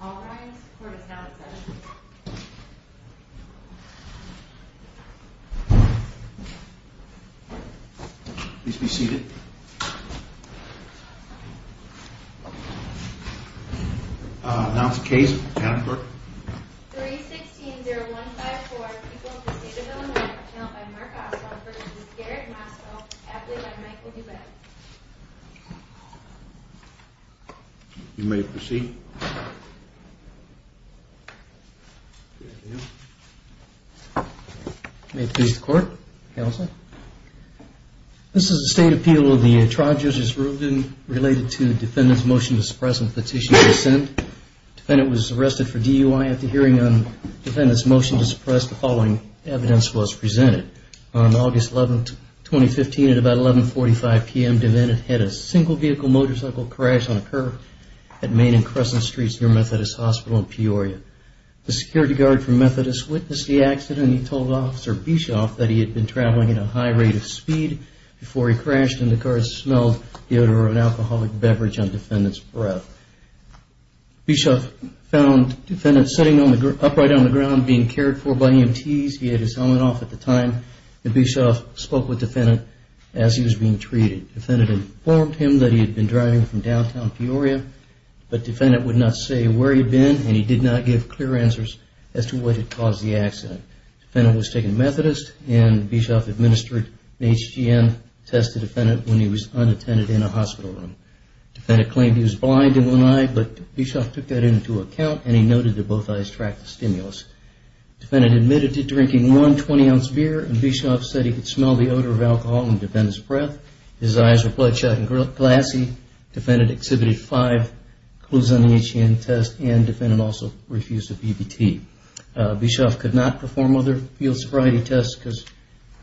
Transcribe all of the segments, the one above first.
All rise, the court is now in session. Please be seated. I'll announce the case. Can I have the clerk? 3-16-0154, People of the State of Illinois, Channeled by Mark Oswald v. Garrett Motzko, Adelaide by Michael Dubé. You may proceed. May it please the court, counsel. This is a state appeal of the trial judge's ruling related to defendant's motion to suppress and petition for dissent. Defendant was arrested for DUI at the hearing on defendant's motion to suppress. The following evidence was presented. On August 11, 2015, at about 11.45 p.m., defendant had a single-vehicle motorcycle crash on a curb at Main and Crescent Streets near Methodist Hospital in Peoria. The security guard from Methodist witnessed the accident and he told Officer Bischoff that he had been traveling at a high rate of speed before he crashed and the car smelled the odor of an alcoholic beverage on defendant's breath. Bischoff found defendant sitting upright on the ground being cared for by EMTs. He had his helmet off at the time. Bischoff spoke with defendant as he was being treated. Defendant informed him that he had been driving from downtown Peoria, but defendant would not say where he had been and he did not give clear answers as to what had caused the accident. Defendant was taken to Methodist and Bischoff administered an HGM test to defendant when he was unattended in a hospital room. Defendant claimed he was blind in one eye, but Bischoff took that into account and he noted that both eyes tracked the stimulus. Defendant admitted to drinking one 20-ounce beer and Bischoff said he could smell the odor of alcohol on defendant's breath. His eyes were bloodshot and glassy. Defendant exhibited five clues on the HGM test and defendant also refused a PBT. Bischoff could not perform other field sobriety tests because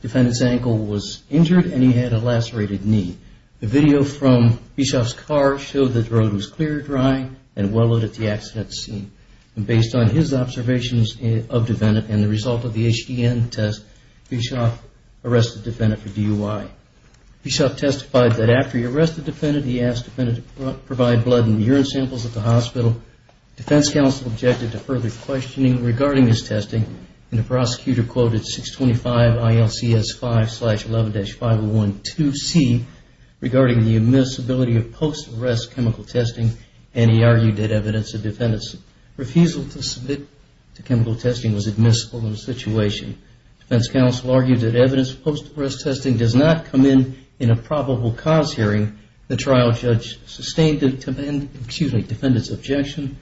defendant's ankle was injured and he had a lacerated knee. The video from Bischoff's car showed that the road was clear, dry, and well-lit at the accident scene. Based on his observations of defendant and the result of the HGM test, Bischoff arrested defendant for DUI. Bischoff testified that after he arrested defendant, he asked defendant to provide blood and urine samples at the hospital. Defense counsel objected to further questioning regarding his testing and the prosecutor quoted 625 ILCS 5-11-5012C regarding the admissibility of post-arrest chemical testing and he argued that evidence of defendant's refusal to submit to chemical testing was admissible in the situation. Defense counsel argued that evidence of post-arrest testing does not come in in a probable cause hearing. The trial judge sustained defendant's objection.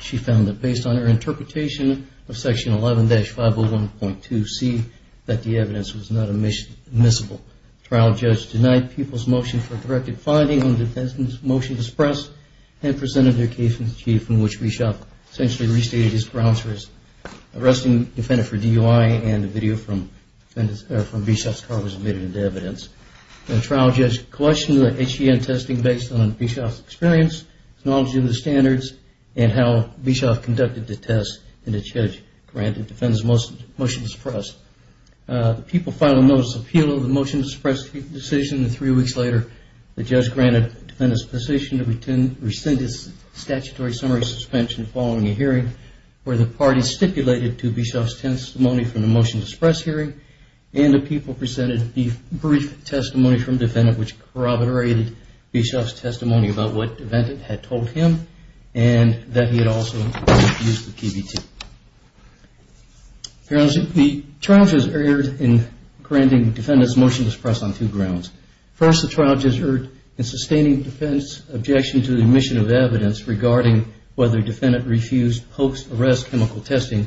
She found that based on her interpretation of section 11-501.2C that the evidence was not admissible. The trial judge denied people's motion for a directed finding on defendant's motion to suppress and presented their case in a sheet from which Bischoff essentially restated his grounds for arresting defendant for DUI and the video from Bischoff's car was admitted into evidence. The trial judge questioned the HGM testing based on Bischoff's experience, his knowledge of the standards, and how Bischoff conducted the test and the judge granted defendant's motion to suppress. The people filed a notice of appeal of the motion to suppress the decision and three weeks later the judge granted defendant's position to rescind his statutory summary suspension following a hearing where the parties stipulated to Bischoff's testimony from the motion to suppress hearing and the people presented the brief testimony from defendant which corroborated Bischoff's testimony about what defendant had told him and that he had also used the PBT. The trial judge erred in granting defendant's motion to suppress on two grounds. First, the trial judge erred in sustaining defendant's objection to the omission of evidence regarding whether defendant refused post-arrest chemical testing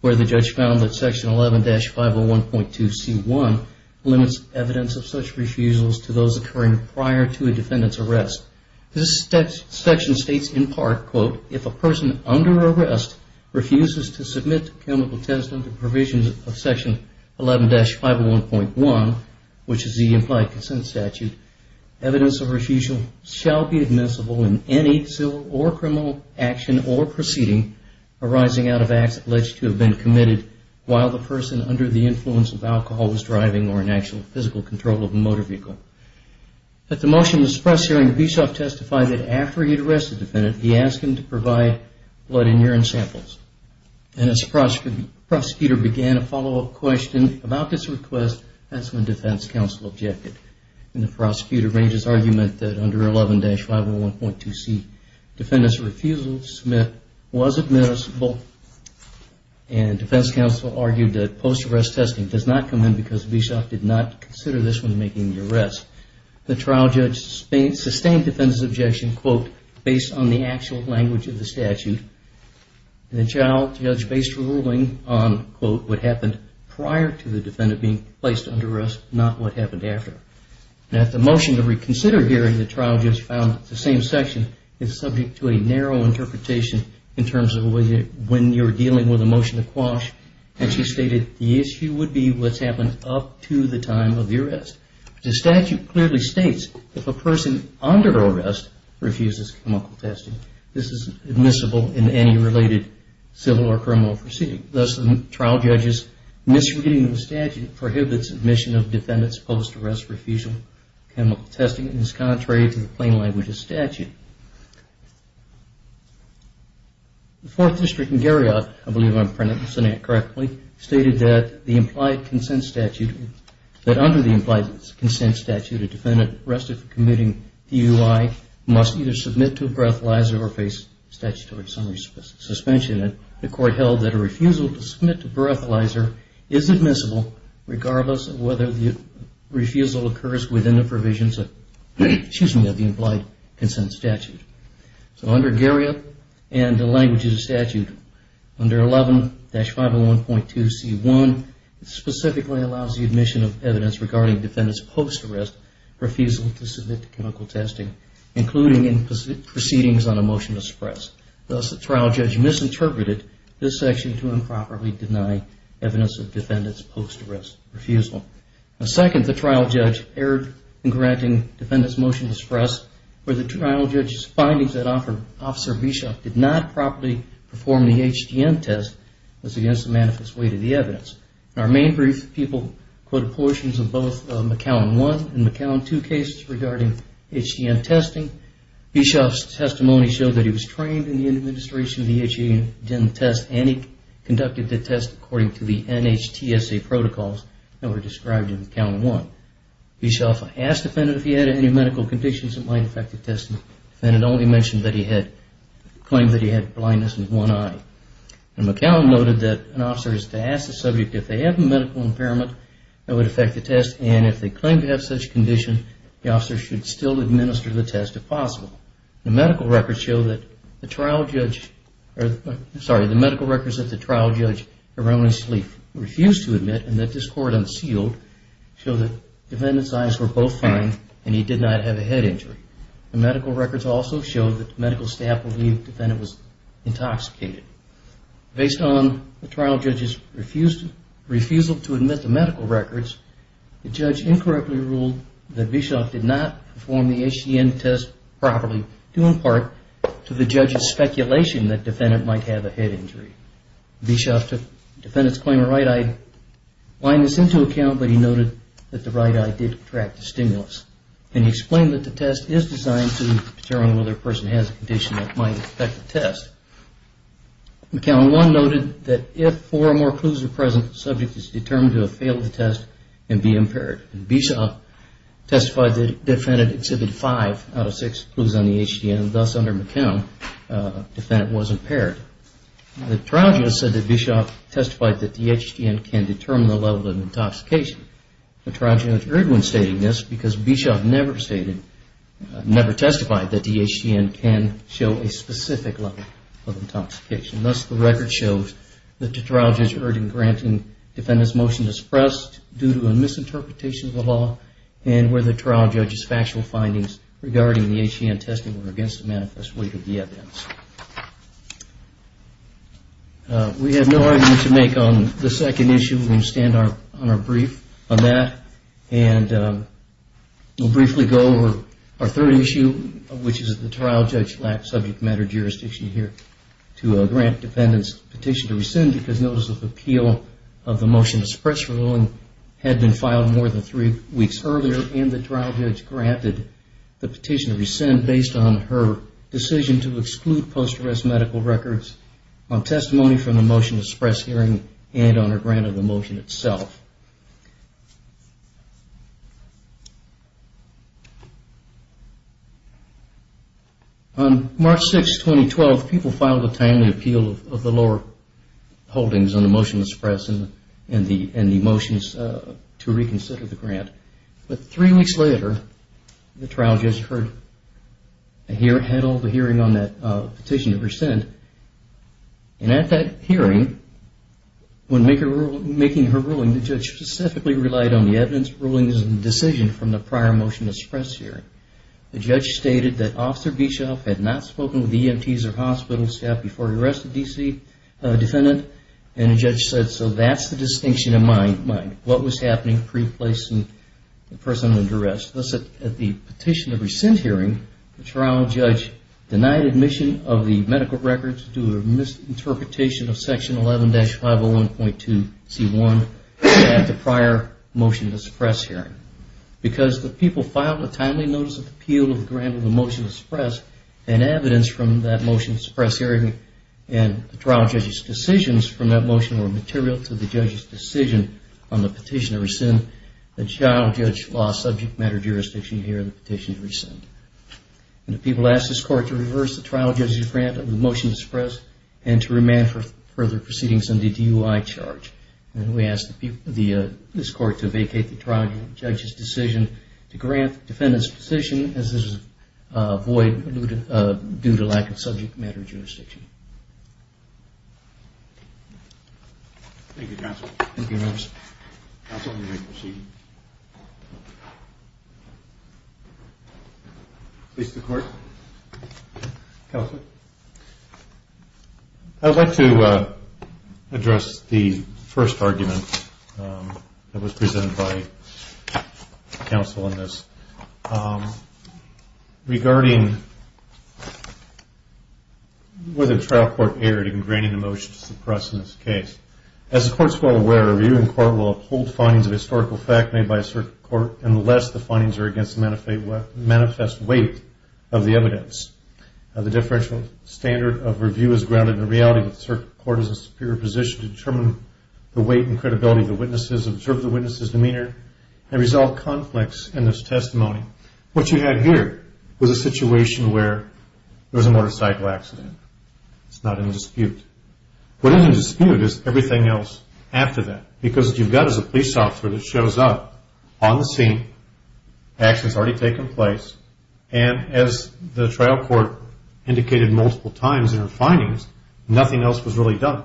where the judge found that section 11-501.2C1 limits evidence of such refusals This section states in part, quote, if a person under arrest refuses to submit to chemical testing under provisions of section 11-501.1, which is the implied consent statute, evidence of refusal shall be admissible in any civil or criminal action or proceeding arising out of acts alleged to have been committed while the person under the influence of alcohol was driving or in actual physical control of a motor vehicle. At the motion to suppress hearing, Bischoff testified that after he had arrested the defendant, he asked him to provide blood and urine samples. And as the prosecutor began a follow-up question about this request, that's when defense counsel objected. And the prosecutor raised his argument that under 11-501.2C, defendant's refusal to submit was admissible and defense counsel argued that post-arrest testing does not come in because Bischoff did not consider this when making the arrest. The trial judge sustained defendant's objection, quote, based on the actual language of the statute. The trial judge based ruling on, quote, what happened prior to the defendant being placed under arrest, not what happened after. At the motion to reconsider hearing, the trial judge found that the same section is subject to a narrow interpretation in terms of when you're dealing with a motion to quash. And she stated the issue would be what's happened up to the time of the arrest. The statute clearly states if a person under arrest refuses chemical testing, this is admissible in any related civil or criminal proceeding. Thus, the trial judge's misreading of the statute prohibits admission of defendant's post-arrest refusal of chemical testing and is contrary to the plain language of the statute. The Fourth District in Garriott, I believe I'm printing this correctly, stated that the implied consent statute, that under the implied consent statute, a defendant arrested for committing DUI must either submit to a breathalyzer or face statutory summary suspension. And the court held that a refusal to submit to a breathalyzer is admissible regardless of whether the refusal occurs within the provisions of the implied consent statute. So under Garriott and the language of the statute, under 11-501.2C1, it specifically allows the admission of evidence regarding defendant's post-arrest refusal to submit to chemical testing, including in proceedings on a motion to suppress. Thus, the trial judge misinterpreted this section to improperly deny evidence of defendant's post-arrest refusal. Second, the trial judge erred in granting defendant's motion to suppress where the trial judge's findings that Officer Bischoff did not properly perform the HDM test was against the manifest weight of the evidence. In our main brief, people quoted portions of both McAllen 1 and McAllen 2 cases regarding HDM testing. Bischoff's testimony showed that he was trained in the administration of the HDM test and he conducted the test according to the NHTSA protocols that were described in McAllen 1. Bischoff asked defendant if he had any medical conditions that might affect the test and the defendant only claimed that he had blindness in one eye. McAllen noted that an officer is to ask the subject if they have a medical impairment that would affect the test and if they claim to have such condition, the officer should still administer the test if possible. The medical records show that the trial judge, sorry, the medical records of the trial judge, refused to admit and that this court unsealed showed that defendant's eyes were both fine and he did not have a head injury. The medical records also showed that the medical staff believed the defendant was intoxicated. Based on the trial judge's refusal to admit the medical records, the judge incorrectly ruled that Bischoff did not perform the HDM test properly due in part to the judge's speculation that defendant might have a head injury. Bischoff took defendant's claim of right eye blindness into account but he noted that the right eye did attract the stimulus and he explained that the test is designed to determine whether a person has a condition that might affect the test. McAllen 1 noted that if four or more clues are present, the subject is determined to have failed the test and be impaired. Bischoff testified that the defendant exhibited five out of six clues on the HDM and thus under McAllen, the defendant was impaired. The trial judge said that Bischoff testified that the HDM can determine the level of intoxication. The trial judge erred when stating this because Bischoff never testified that the HDM can show a specific level of intoxication. Thus, the record shows that the trial judge erred in granting defendant's motion to suppress due to a misinterpretation of the law and where the trial judge's factual findings regarding the HDM testing were against the manifest weight of the evidence. We have no argument to make on the second issue. We're going to stand on our brief on that and we'll briefly go over our third issue which is the trial judge lacked subject matter jurisdiction here to grant defendant's petition to rescind because notice of appeal of the motion to suppress ruling had been filed more than three weeks earlier and the trial judge granted the petition to rescind based on her decision to exclude post arrest medical records on testimony from the motion to suppress hearing and on her grant of the motion itself. On March 6, 2012, people filed a timely appeal of the lower holdings on the motion to suppress and the motions to reconsider the grant. But three weeks later, the trial judge had held a hearing on that petition to rescind and at that hearing, when making her ruling, the judge specifically relied on the evidence ruling as a decision from the prior motion to suppress hearing. The judge stated that Officer Bischoff had not spoken with EMTs or hospital staff before he arrested the defendant and the judge said, so that's the distinction of mind, what was happening pre-placing the person under arrest. Thus, at the petition to rescind hearing, the trial judge denied admission of the medical records due to a misinterpretation of Section 11-501.2C1 at the prior motion to suppress hearing. Because the people filed a timely notice of appeal of the grant of the motion to suppress and evidence from that motion to suppress hearing and the trial judge's decisions from that motion were material to the judge's decision on the petition to rescind, the trial judge lost subject matter jurisdiction here in the petition to rescind. The people asked this court to reverse the trial judge's grant of the motion to suppress and to remand for further proceedings under the DUI charge. We asked this court to vacate the trial judge's decision to grant the defendant's position as this is void due to lack of subject matter jurisdiction. Thank you, counsel. Thank you, members. Counsel, you may proceed. Please, the court. Counsel? I would like to address the first argument that was presented by counsel in this. Regarding whether the trial court erred in granting the motion to suppress in this case. As the court is well aware, a review in court will uphold findings of historical fact made by a certain court unless the findings are against the manifest weight of the evidence. The differential standard of review is grounded in the reality that the court is in a superior position to determine the weight and credibility of the witnesses, observe the witnesses' demeanor, and resolve conflicts in this testimony. What you had here was a situation where there was a motorcycle accident. It's not in dispute. What is in dispute is everything else after that, because what you've got is a police officer that shows up on the scene, action has already taken place, and as the trial court indicated multiple times in her findings, nothing else was really done.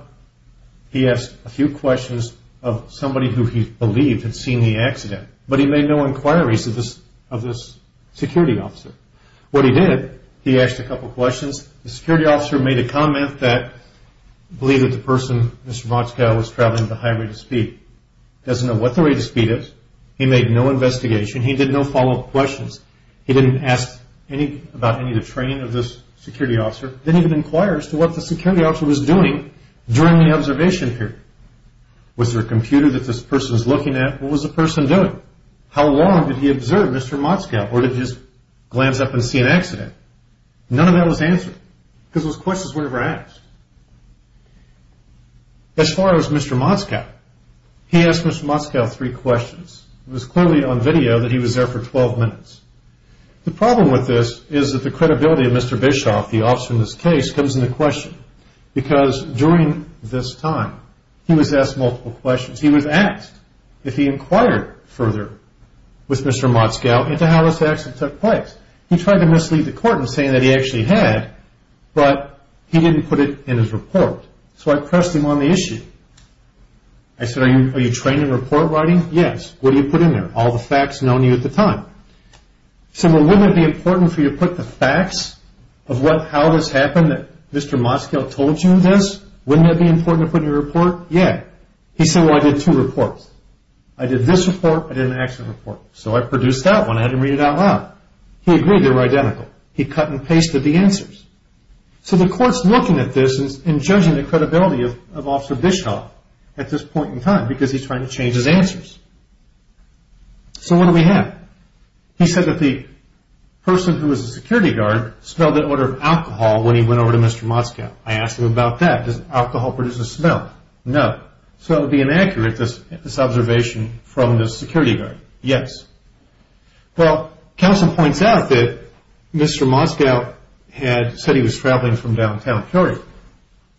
He asked a few questions of somebody who he believed had seen the accident, but he made no inquiries of this security officer. What he did, he asked a couple questions. The security officer made a comment that believed that the person, Mr. Motchkow, was traveling at a high rate of speed. He doesn't know what the rate of speed is. He made no investigation. He did no follow-up questions. He didn't ask about any of the training of this security officer. He didn't even inquire as to what the security officer was doing during the observation period. Was there a computer that this person is looking at? What was the person doing? How long did he observe Mr. Motchkow, or did he just glance up and see an accident? None of that was answered, because those questions were never asked. As far as Mr. Motchkow, he asked Mr. Motchkow three questions. It was clearly on video that he was there for 12 minutes. The problem with this is that the credibility of Mr. Bischoff, the officer in this case, comes into question, because during this time, he was asked multiple questions. He was asked if he inquired further with Mr. Motchkow into how this accident took place. He tried to mislead the court in saying that he actually had, but he didn't put it in his report, so I pressed him on the issue. I said, are you trained in report writing? Yes. What do you put in there? All the facts known to you at the time. I said, well, wouldn't it be important for you to put the facts of how this happened, that Mr. Motchkow told you this? Wouldn't that be important to put in your report? Yeah. He said, well, I did two reports. I did this report. I did an accident report. So I produced that one. I had him read it out loud. He agreed they were identical. He cut and pasted the answers. So the court's looking at this and judging the credibility of Officer Bischoff at this point in time because he's trying to change his answers. So what do we have? He said that the person who was the security guard smelled an odor of alcohol when he went over to Mr. Motchkow. I asked him about that. Does alcohol produce a smell? No. So it would be inaccurate, this observation from the security guard. Yes. Well, counsel points out that Mr. Motchkow said he was traveling from downtown Curry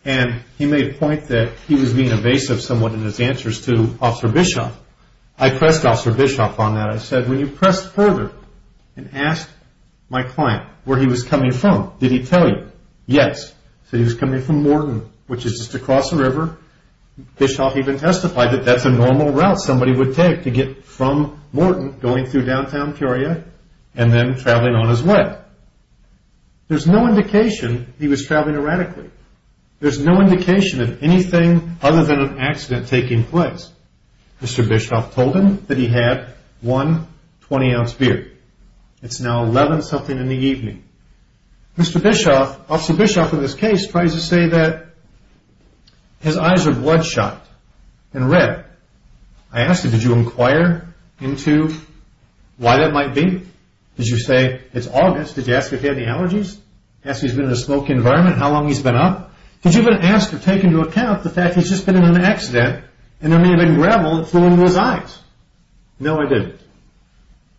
and he made a point that he was being evasive somewhat in his answers to Officer Bischoff. I pressed Officer Bischoff on that. I said, when you pressed further and asked my client where he was coming from, did he tell you? Yes. He said he was coming from Morton, which is just across the river. Bischoff even testified that that's a normal route somebody would take to get from Morton, going through downtown Curia and then traveling on his way. There's no indication he was traveling erratically. There's no indication of anything other than an accident taking place. Mr. Bischoff told him that he had one 20-ounce beer. It's now 11-something in the evening. Mr. Bischoff, Officer Bischoff in this case, tries to say that his eyes are bloodshot and red. I asked him, did you inquire into why that might be? Did you say, it's August, did you ask if he had any allergies? Asked if he's been in a smoky environment, how long he's been up? Did you even ask or take into account the fact he's just been in an accident and there may have been gravel that flew into his eyes? No, I didn't.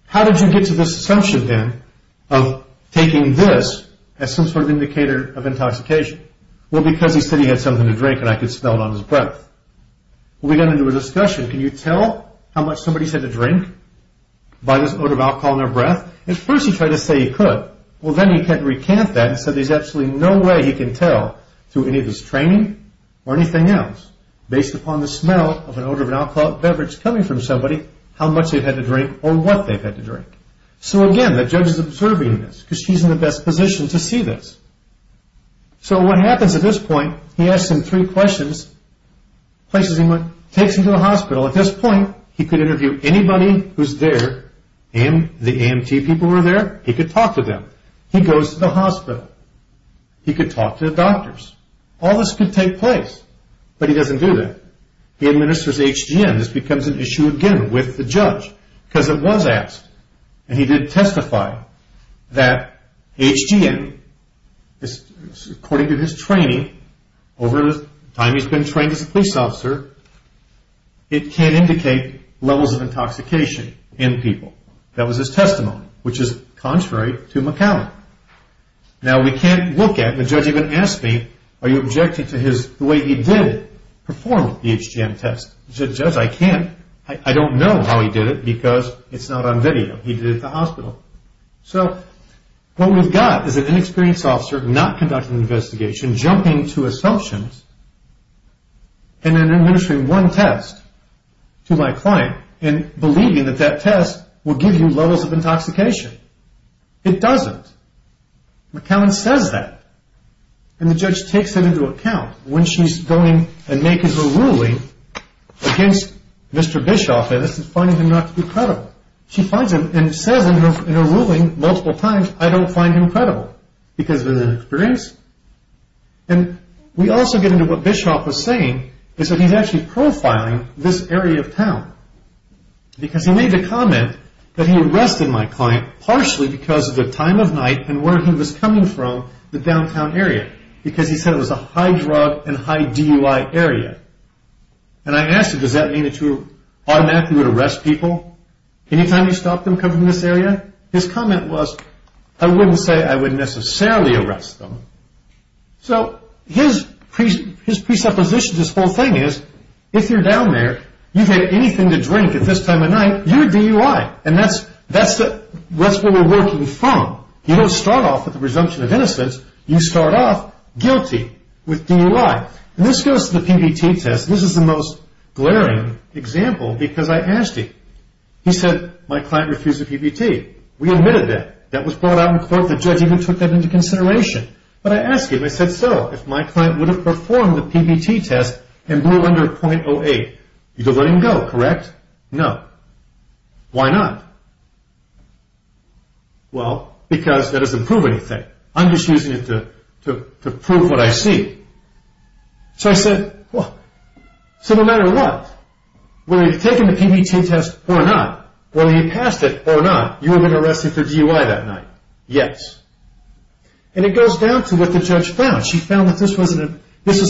How did you get to this assumption, then, of taking this as some sort of indicator of intoxication? Well, because he said he had something to drink and I could smell it on his breath. We got into a discussion, can you tell how much somebody's had to drink by this odor of alcohol in their breath? At first he tried to say he could. Well, then he tried to recant that and said there's absolutely no way he can tell through any of his training or anything else, based upon the smell of an odor of an alcohol beverage coming from somebody, how much they've had to drink or what they've had to drink. So again, the judge is observing this because she's in the best position to see this. So what happens at this point, he asks him three questions, takes him to the hospital. At this point, he could interview anybody who's there. The AMT people were there. He could talk to them. He goes to the hospital. He could talk to the doctors. All this could take place, but he doesn't do that. He administers HGM. This becomes an issue again with the judge because it was asked, and he did testify that HGM, according to his training, over the time he's been trained as a police officer, it can indicate levels of intoxication in people. That was his testimony, which is contrary to McAllen. Now we can't look at, the judge even asked me, are you objecting to the way he did perform the HGM test? The judge said, I can't. I don't know how he did it because it's not on video. He did it at the hospital. So what we've got is an inexperienced officer not conducting an investigation, jumping to assumptions, and then administering one test to my client and believing that that test will give you levels of intoxication. It doesn't. McAllen says that. And the judge takes it into account when she's going and making her ruling against Mr. Bischoff, and this is finding him not to be credible. She finds him and says in her ruling multiple times, I don't find him credible because of his inexperience. And we also get into what Bischoff was saying, is that he's actually profiling this area of town because he made the comment that he arrested my client partially because of the time of night and where he was coming from the downtown area because he said it was a high-drug and high-DUI area. And I asked him, does that mean that you automatically would arrest people any time you stopped them coming to this area? His comment was, I wouldn't say I would necessarily arrest them. So his presupposition to this whole thing is, if you're down there, you've had anything to drink at this time of night, you're DUI, and that's where we're working from. You don't start off with the presumption of innocence. You start off guilty with DUI. And this goes to the PBT test. This is the most glaring example because I asked him. He said, my client refused the PBT. We admitted that. That was brought out in court. The judge even took that into consideration. But I asked him, I said, so, if my client would have performed the PBT test and blew under .08, you'd have let him go, correct? No. Why not? Well, because that doesn't prove anything. I'm just using it to prove what I see. So I said, so no matter what, whether you've taken the PBT test or not, whether you passed it or not, you would have been arrested for DUI that night. Yes. And it goes down to what the judge found. She found that this was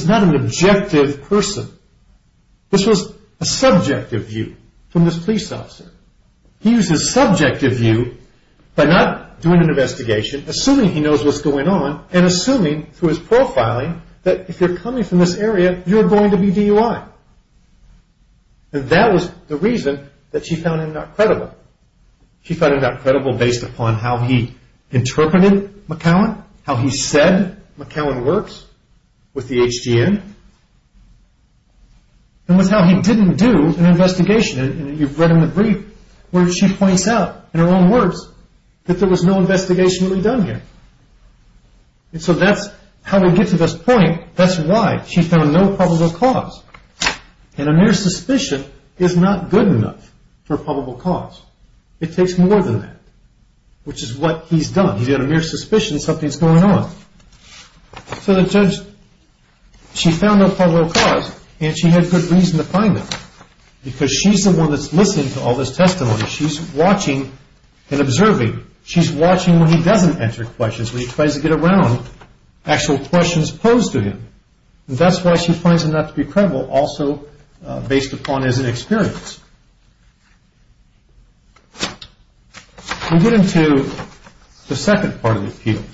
not an objective person. This was a subjective view from this police officer. He used his subjective view by not doing an investigation, assuming he knows what's going on, and assuming through his profiling that if you're coming from this area, you're going to be DUI. And that was the reason that she found him not credible. She found him not credible based upon how he interpreted McCowan, how he said McCowan works with the HGN, and with how he didn't do an investigation. And you've read in the brief where she points out in her own words that there was no investigation really done here. And so that's how we get to this point. That's why she found no probable cause. And a mere suspicion is not good enough for a probable cause. It takes more than that, which is what he's done. He's got a mere suspicion something's going on. So the judge, she found no probable cause, and she had good reason to find him because she's the one that's listening to all this testimony. She's watching and observing. She's watching when he doesn't answer questions. When he tries to get around actual questions posed to him. And that's why she finds him not to be credible, also based upon his inexperience. We get into the second part of the appeal.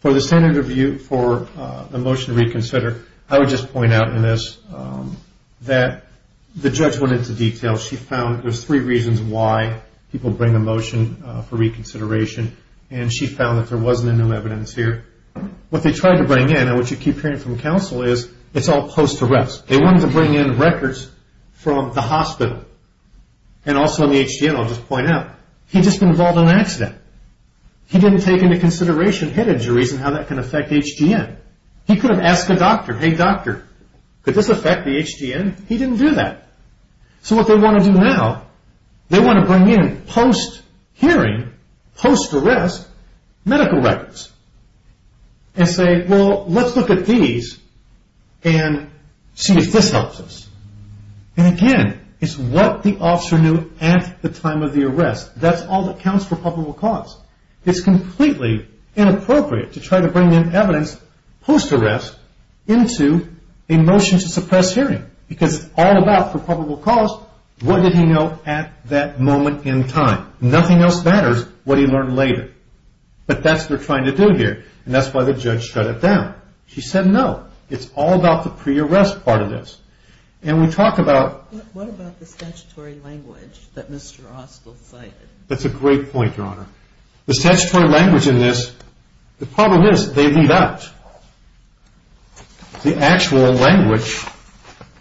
For the motion to reconsider, I would just point out in this that the judge went into detail. She found there's three reasons why people bring a motion for reconsideration. And she found that there wasn't any evidence here. What they tried to bring in, and what you keep hearing from counsel, is it's all post-arrest. They wanted to bring in records from the hospital. And also in the HGN, I'll just point out, he'd just been involved in an accident. He didn't take into consideration head injuries and how that can affect HGN. He could have asked a doctor, hey doctor, could this affect the HGN? He didn't do that. So what they want to do now, they want to bring in post-hearing, post-arrest, medical records. And say, well, let's look at these and see if this helps us. And again, it's what the officer knew at the time of the arrest. That's all that counts for probable cause. It's completely inappropriate to try to bring in evidence post-arrest into a motion to suppress hearing. Because it's all about, for probable cause, what did he know at that moment in time? Nothing else matters, what he learned later. But that's what they're trying to do here. And that's why the judge shut it down. She said no. It's all about the pre-arrest part of this. And we talk about... What about the statutory language that Mr. Austell cited? That's a great point, Your Honor. The statutory language in this, the problem is they leave out the actual language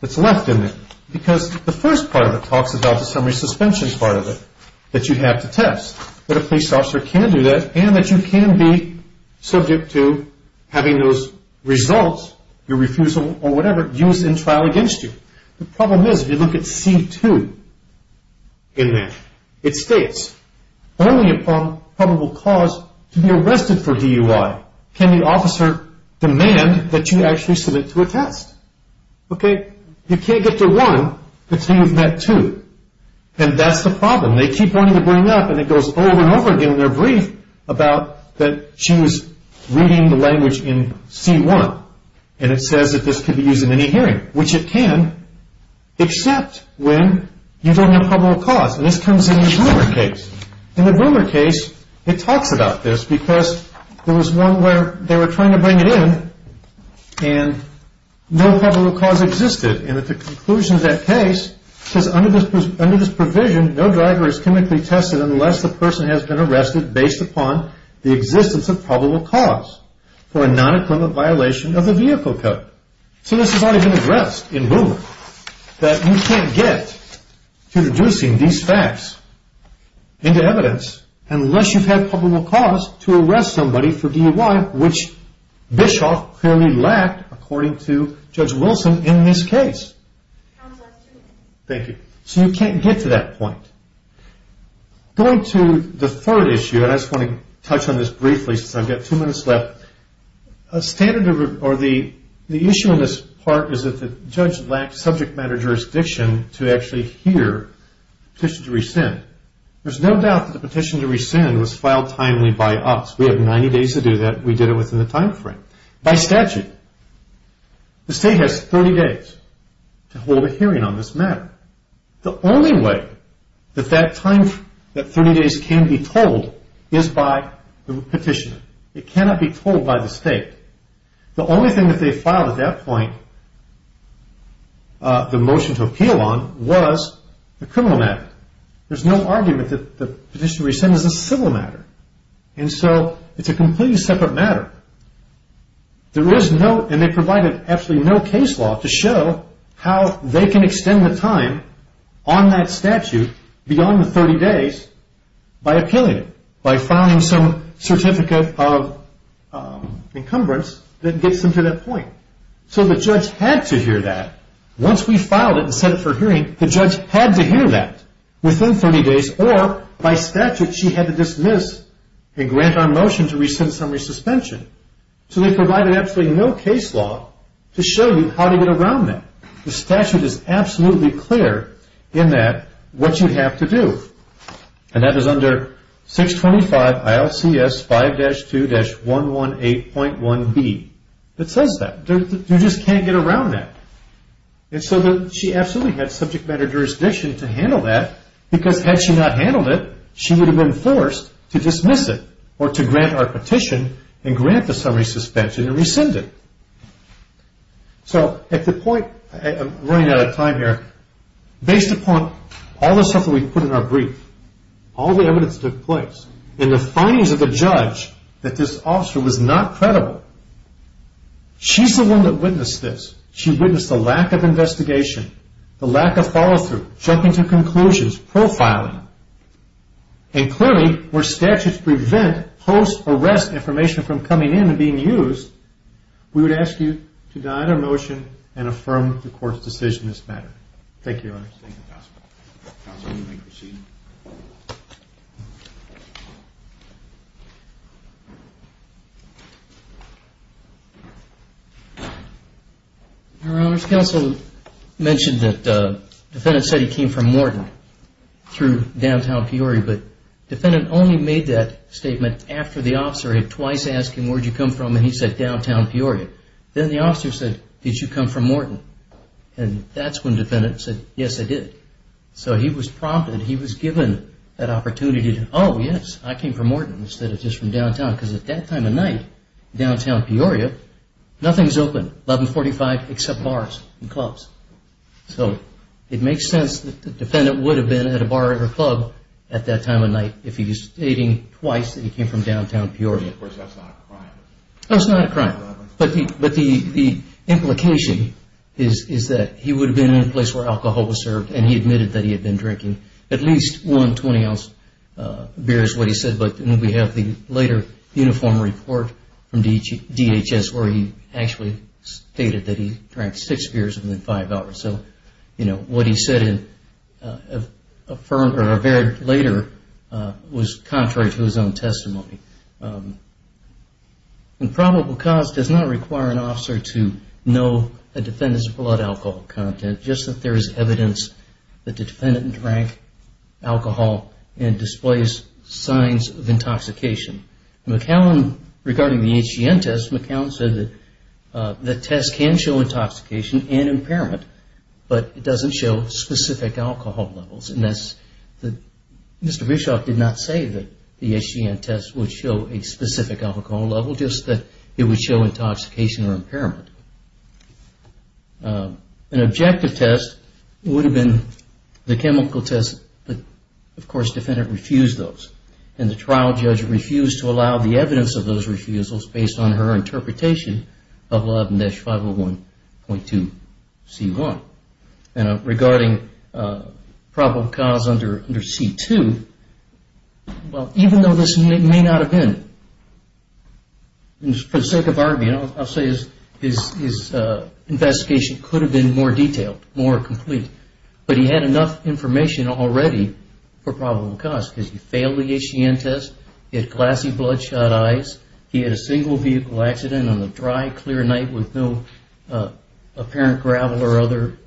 that's left in there. Because the first part of it talks about the summary suspension part of it that you have to test. That a police officer can do that and that you can be subject to having those results, your refusal or whatever, used in trial against you. The problem is if you look at C2 in there. It states, only upon probable cause to be arrested for DUI can the officer demand that you actually submit to a test. Okay? You can't get to 1 until you've met 2. And that's the problem. They keep wanting to bring it up, and it goes over and over again in their brief about that she was reading the language in C1. And it says that this could be used in any hearing, which it can, except when you don't have probable cause. And this comes in the Boomer case. In the Boomer case, it talks about this because there was one where they were trying to bring it in, and no probable cause existed. And at the conclusion of that case, it says under this provision, no driver is clinically tested unless the person has been arrested based upon the existence of probable cause for a non-equivalent violation of the vehicle code. So this has already been addressed in Boomer, that you can't get to reducing these facts into evidence unless you've had probable cause to arrest somebody for DUI, which Bischoff clearly lacked according to Judge Wilson in this case. Thank you. So you can't get to that point. Going to the third issue, and I just want to touch on this briefly since I've got 2 minutes left. The issue in this part is that the judge lacked subject matter jurisdiction to actually hear the petition to rescind. There's no doubt that the petition to rescind was filed timely by us. We have 90 days to do that, and we did it within the time frame. By statute, the state has 30 days to hold a hearing on this matter. The only way that 30 days can be told is by the petitioner. It cannot be told by the state. The only thing that they filed at that point, the motion to appeal on, was the criminal matter. There's no argument that the petition to rescind is a civil matter. And so it's a completely separate matter. There is no, and they provided absolutely no case law to show how they can extend the time on that statute beyond the 30 days by appealing it, by filing some certificate of encumbrance that gets them to that point. So the judge had to hear that. Once we filed it and set it for hearing, the judge had to hear that within 30 days, or by statute she had to dismiss and grant our motion to rescind the summary suspension. So they provided absolutely no case law to show you how to get around that. The statute is absolutely clear in that what you have to do, and that is under 625 ILCS 5-2-118.1b. It says that. You just can't get around that. And so she absolutely had subject matter jurisdiction to handle that, because had she not handled it, she would have been forced to dismiss it or to grant our petition and grant the summary suspension and rescind it. So at the point, I'm running out of time here, based upon all the stuff that we put in our brief, all the evidence that took place, and the findings of the judge that this officer was not credible, she's the one that witnessed this. She witnessed the lack of investigation, the lack of follow-through, jumping to conclusions, profiling. And clearly where statutes prevent post-arrest information from coming in and being used, we would ask you to deny the motion and affirm the court's decision in this matter. Thank you, Your Honor. Thank you, Counsel. Counsel, you may proceed. Your Honors, Counsel mentioned that the defendant said he came from Morton through downtown Peoria, but the defendant only made that statement after the officer had twice asked him, where did you come from? And he said, downtown Peoria. Then the officer said, did you come from Morton? And that's when the defendant said, yes, I did. So he was prompted, he was given that opportunity to, oh, yes, I came from Morton, instead of just from downtown, because at that time of night, downtown Peoria, nothing's open, 1145, except bars and clubs. So it makes sense that the defendant would have been at a bar or a club at that time of night if he was stating twice that he came from downtown Peoria. Of course, that's not a crime. That's not a crime. But the implication is that he would have been in a place where alcohol was served and he admitted that he had been drinking at least one 20-ounce beer is what he said, but we have the later uniform report from DHS where he actually stated that he drank six beers within five hours. So, you know, what he said later was contrary to his own testimony. And probable cause does not require an officer to know a defendant's blood alcohol content, just that there is evidence that the defendant drank alcohol and displays signs of intoxication. McAllen, regarding the HGN test, McAllen said that the test can show intoxication and impairment, but it doesn't show specific alcohol levels. Mr. Bischoff did not say that the HGN test would show a specific alcohol level, just that it would show intoxication or impairment. An objective test would have been the chemical test, but, of course, the defendant refused those, and the trial judge refused to allow the evidence of those refusals based on her interpretation of 11-501.2C1. And regarding probable cause under C2, well, even though this may not have been, for the sake of argument, I'll say his investigation could have been more detailed, more complete, but he had enough information already for probable cause because he failed the HGN test, he had glassy bloodshot eyes, he had a single vehicle accident on a dry, clear night with no apparent gravel or other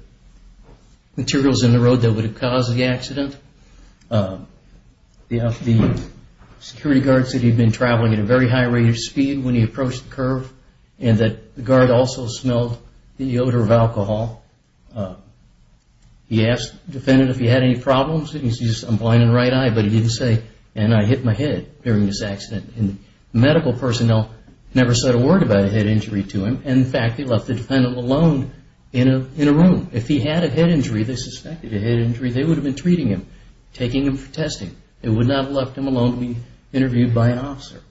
materials in the road that would have caused the accident. The security guard said he'd been traveling at a very high rate of speed when he approached the curve and that the guard also smelled the odor of alcohol. He asked the defendant if he had any problems. He said, I'm blind in the right eye, but he didn't say, and I hit my head during this accident. Medical personnel never said a word about a head injury to him, and, in fact, they left the defendant alone in a room. If he had a head injury, they suspected a head injury, they would have been treating him, taking him for testing. They would not have left him alone to be interviewed by an officer.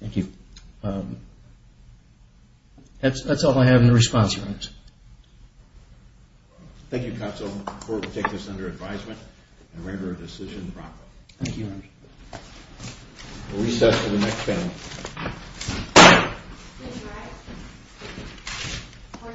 Thank you. That's all I have in response, Your Honors. Thank you, Counsel. The Court will take this under advisement and render a decision promptly. Thank you, Your Honors. We'll recess to the next panel. Please rise. Court is adjourned.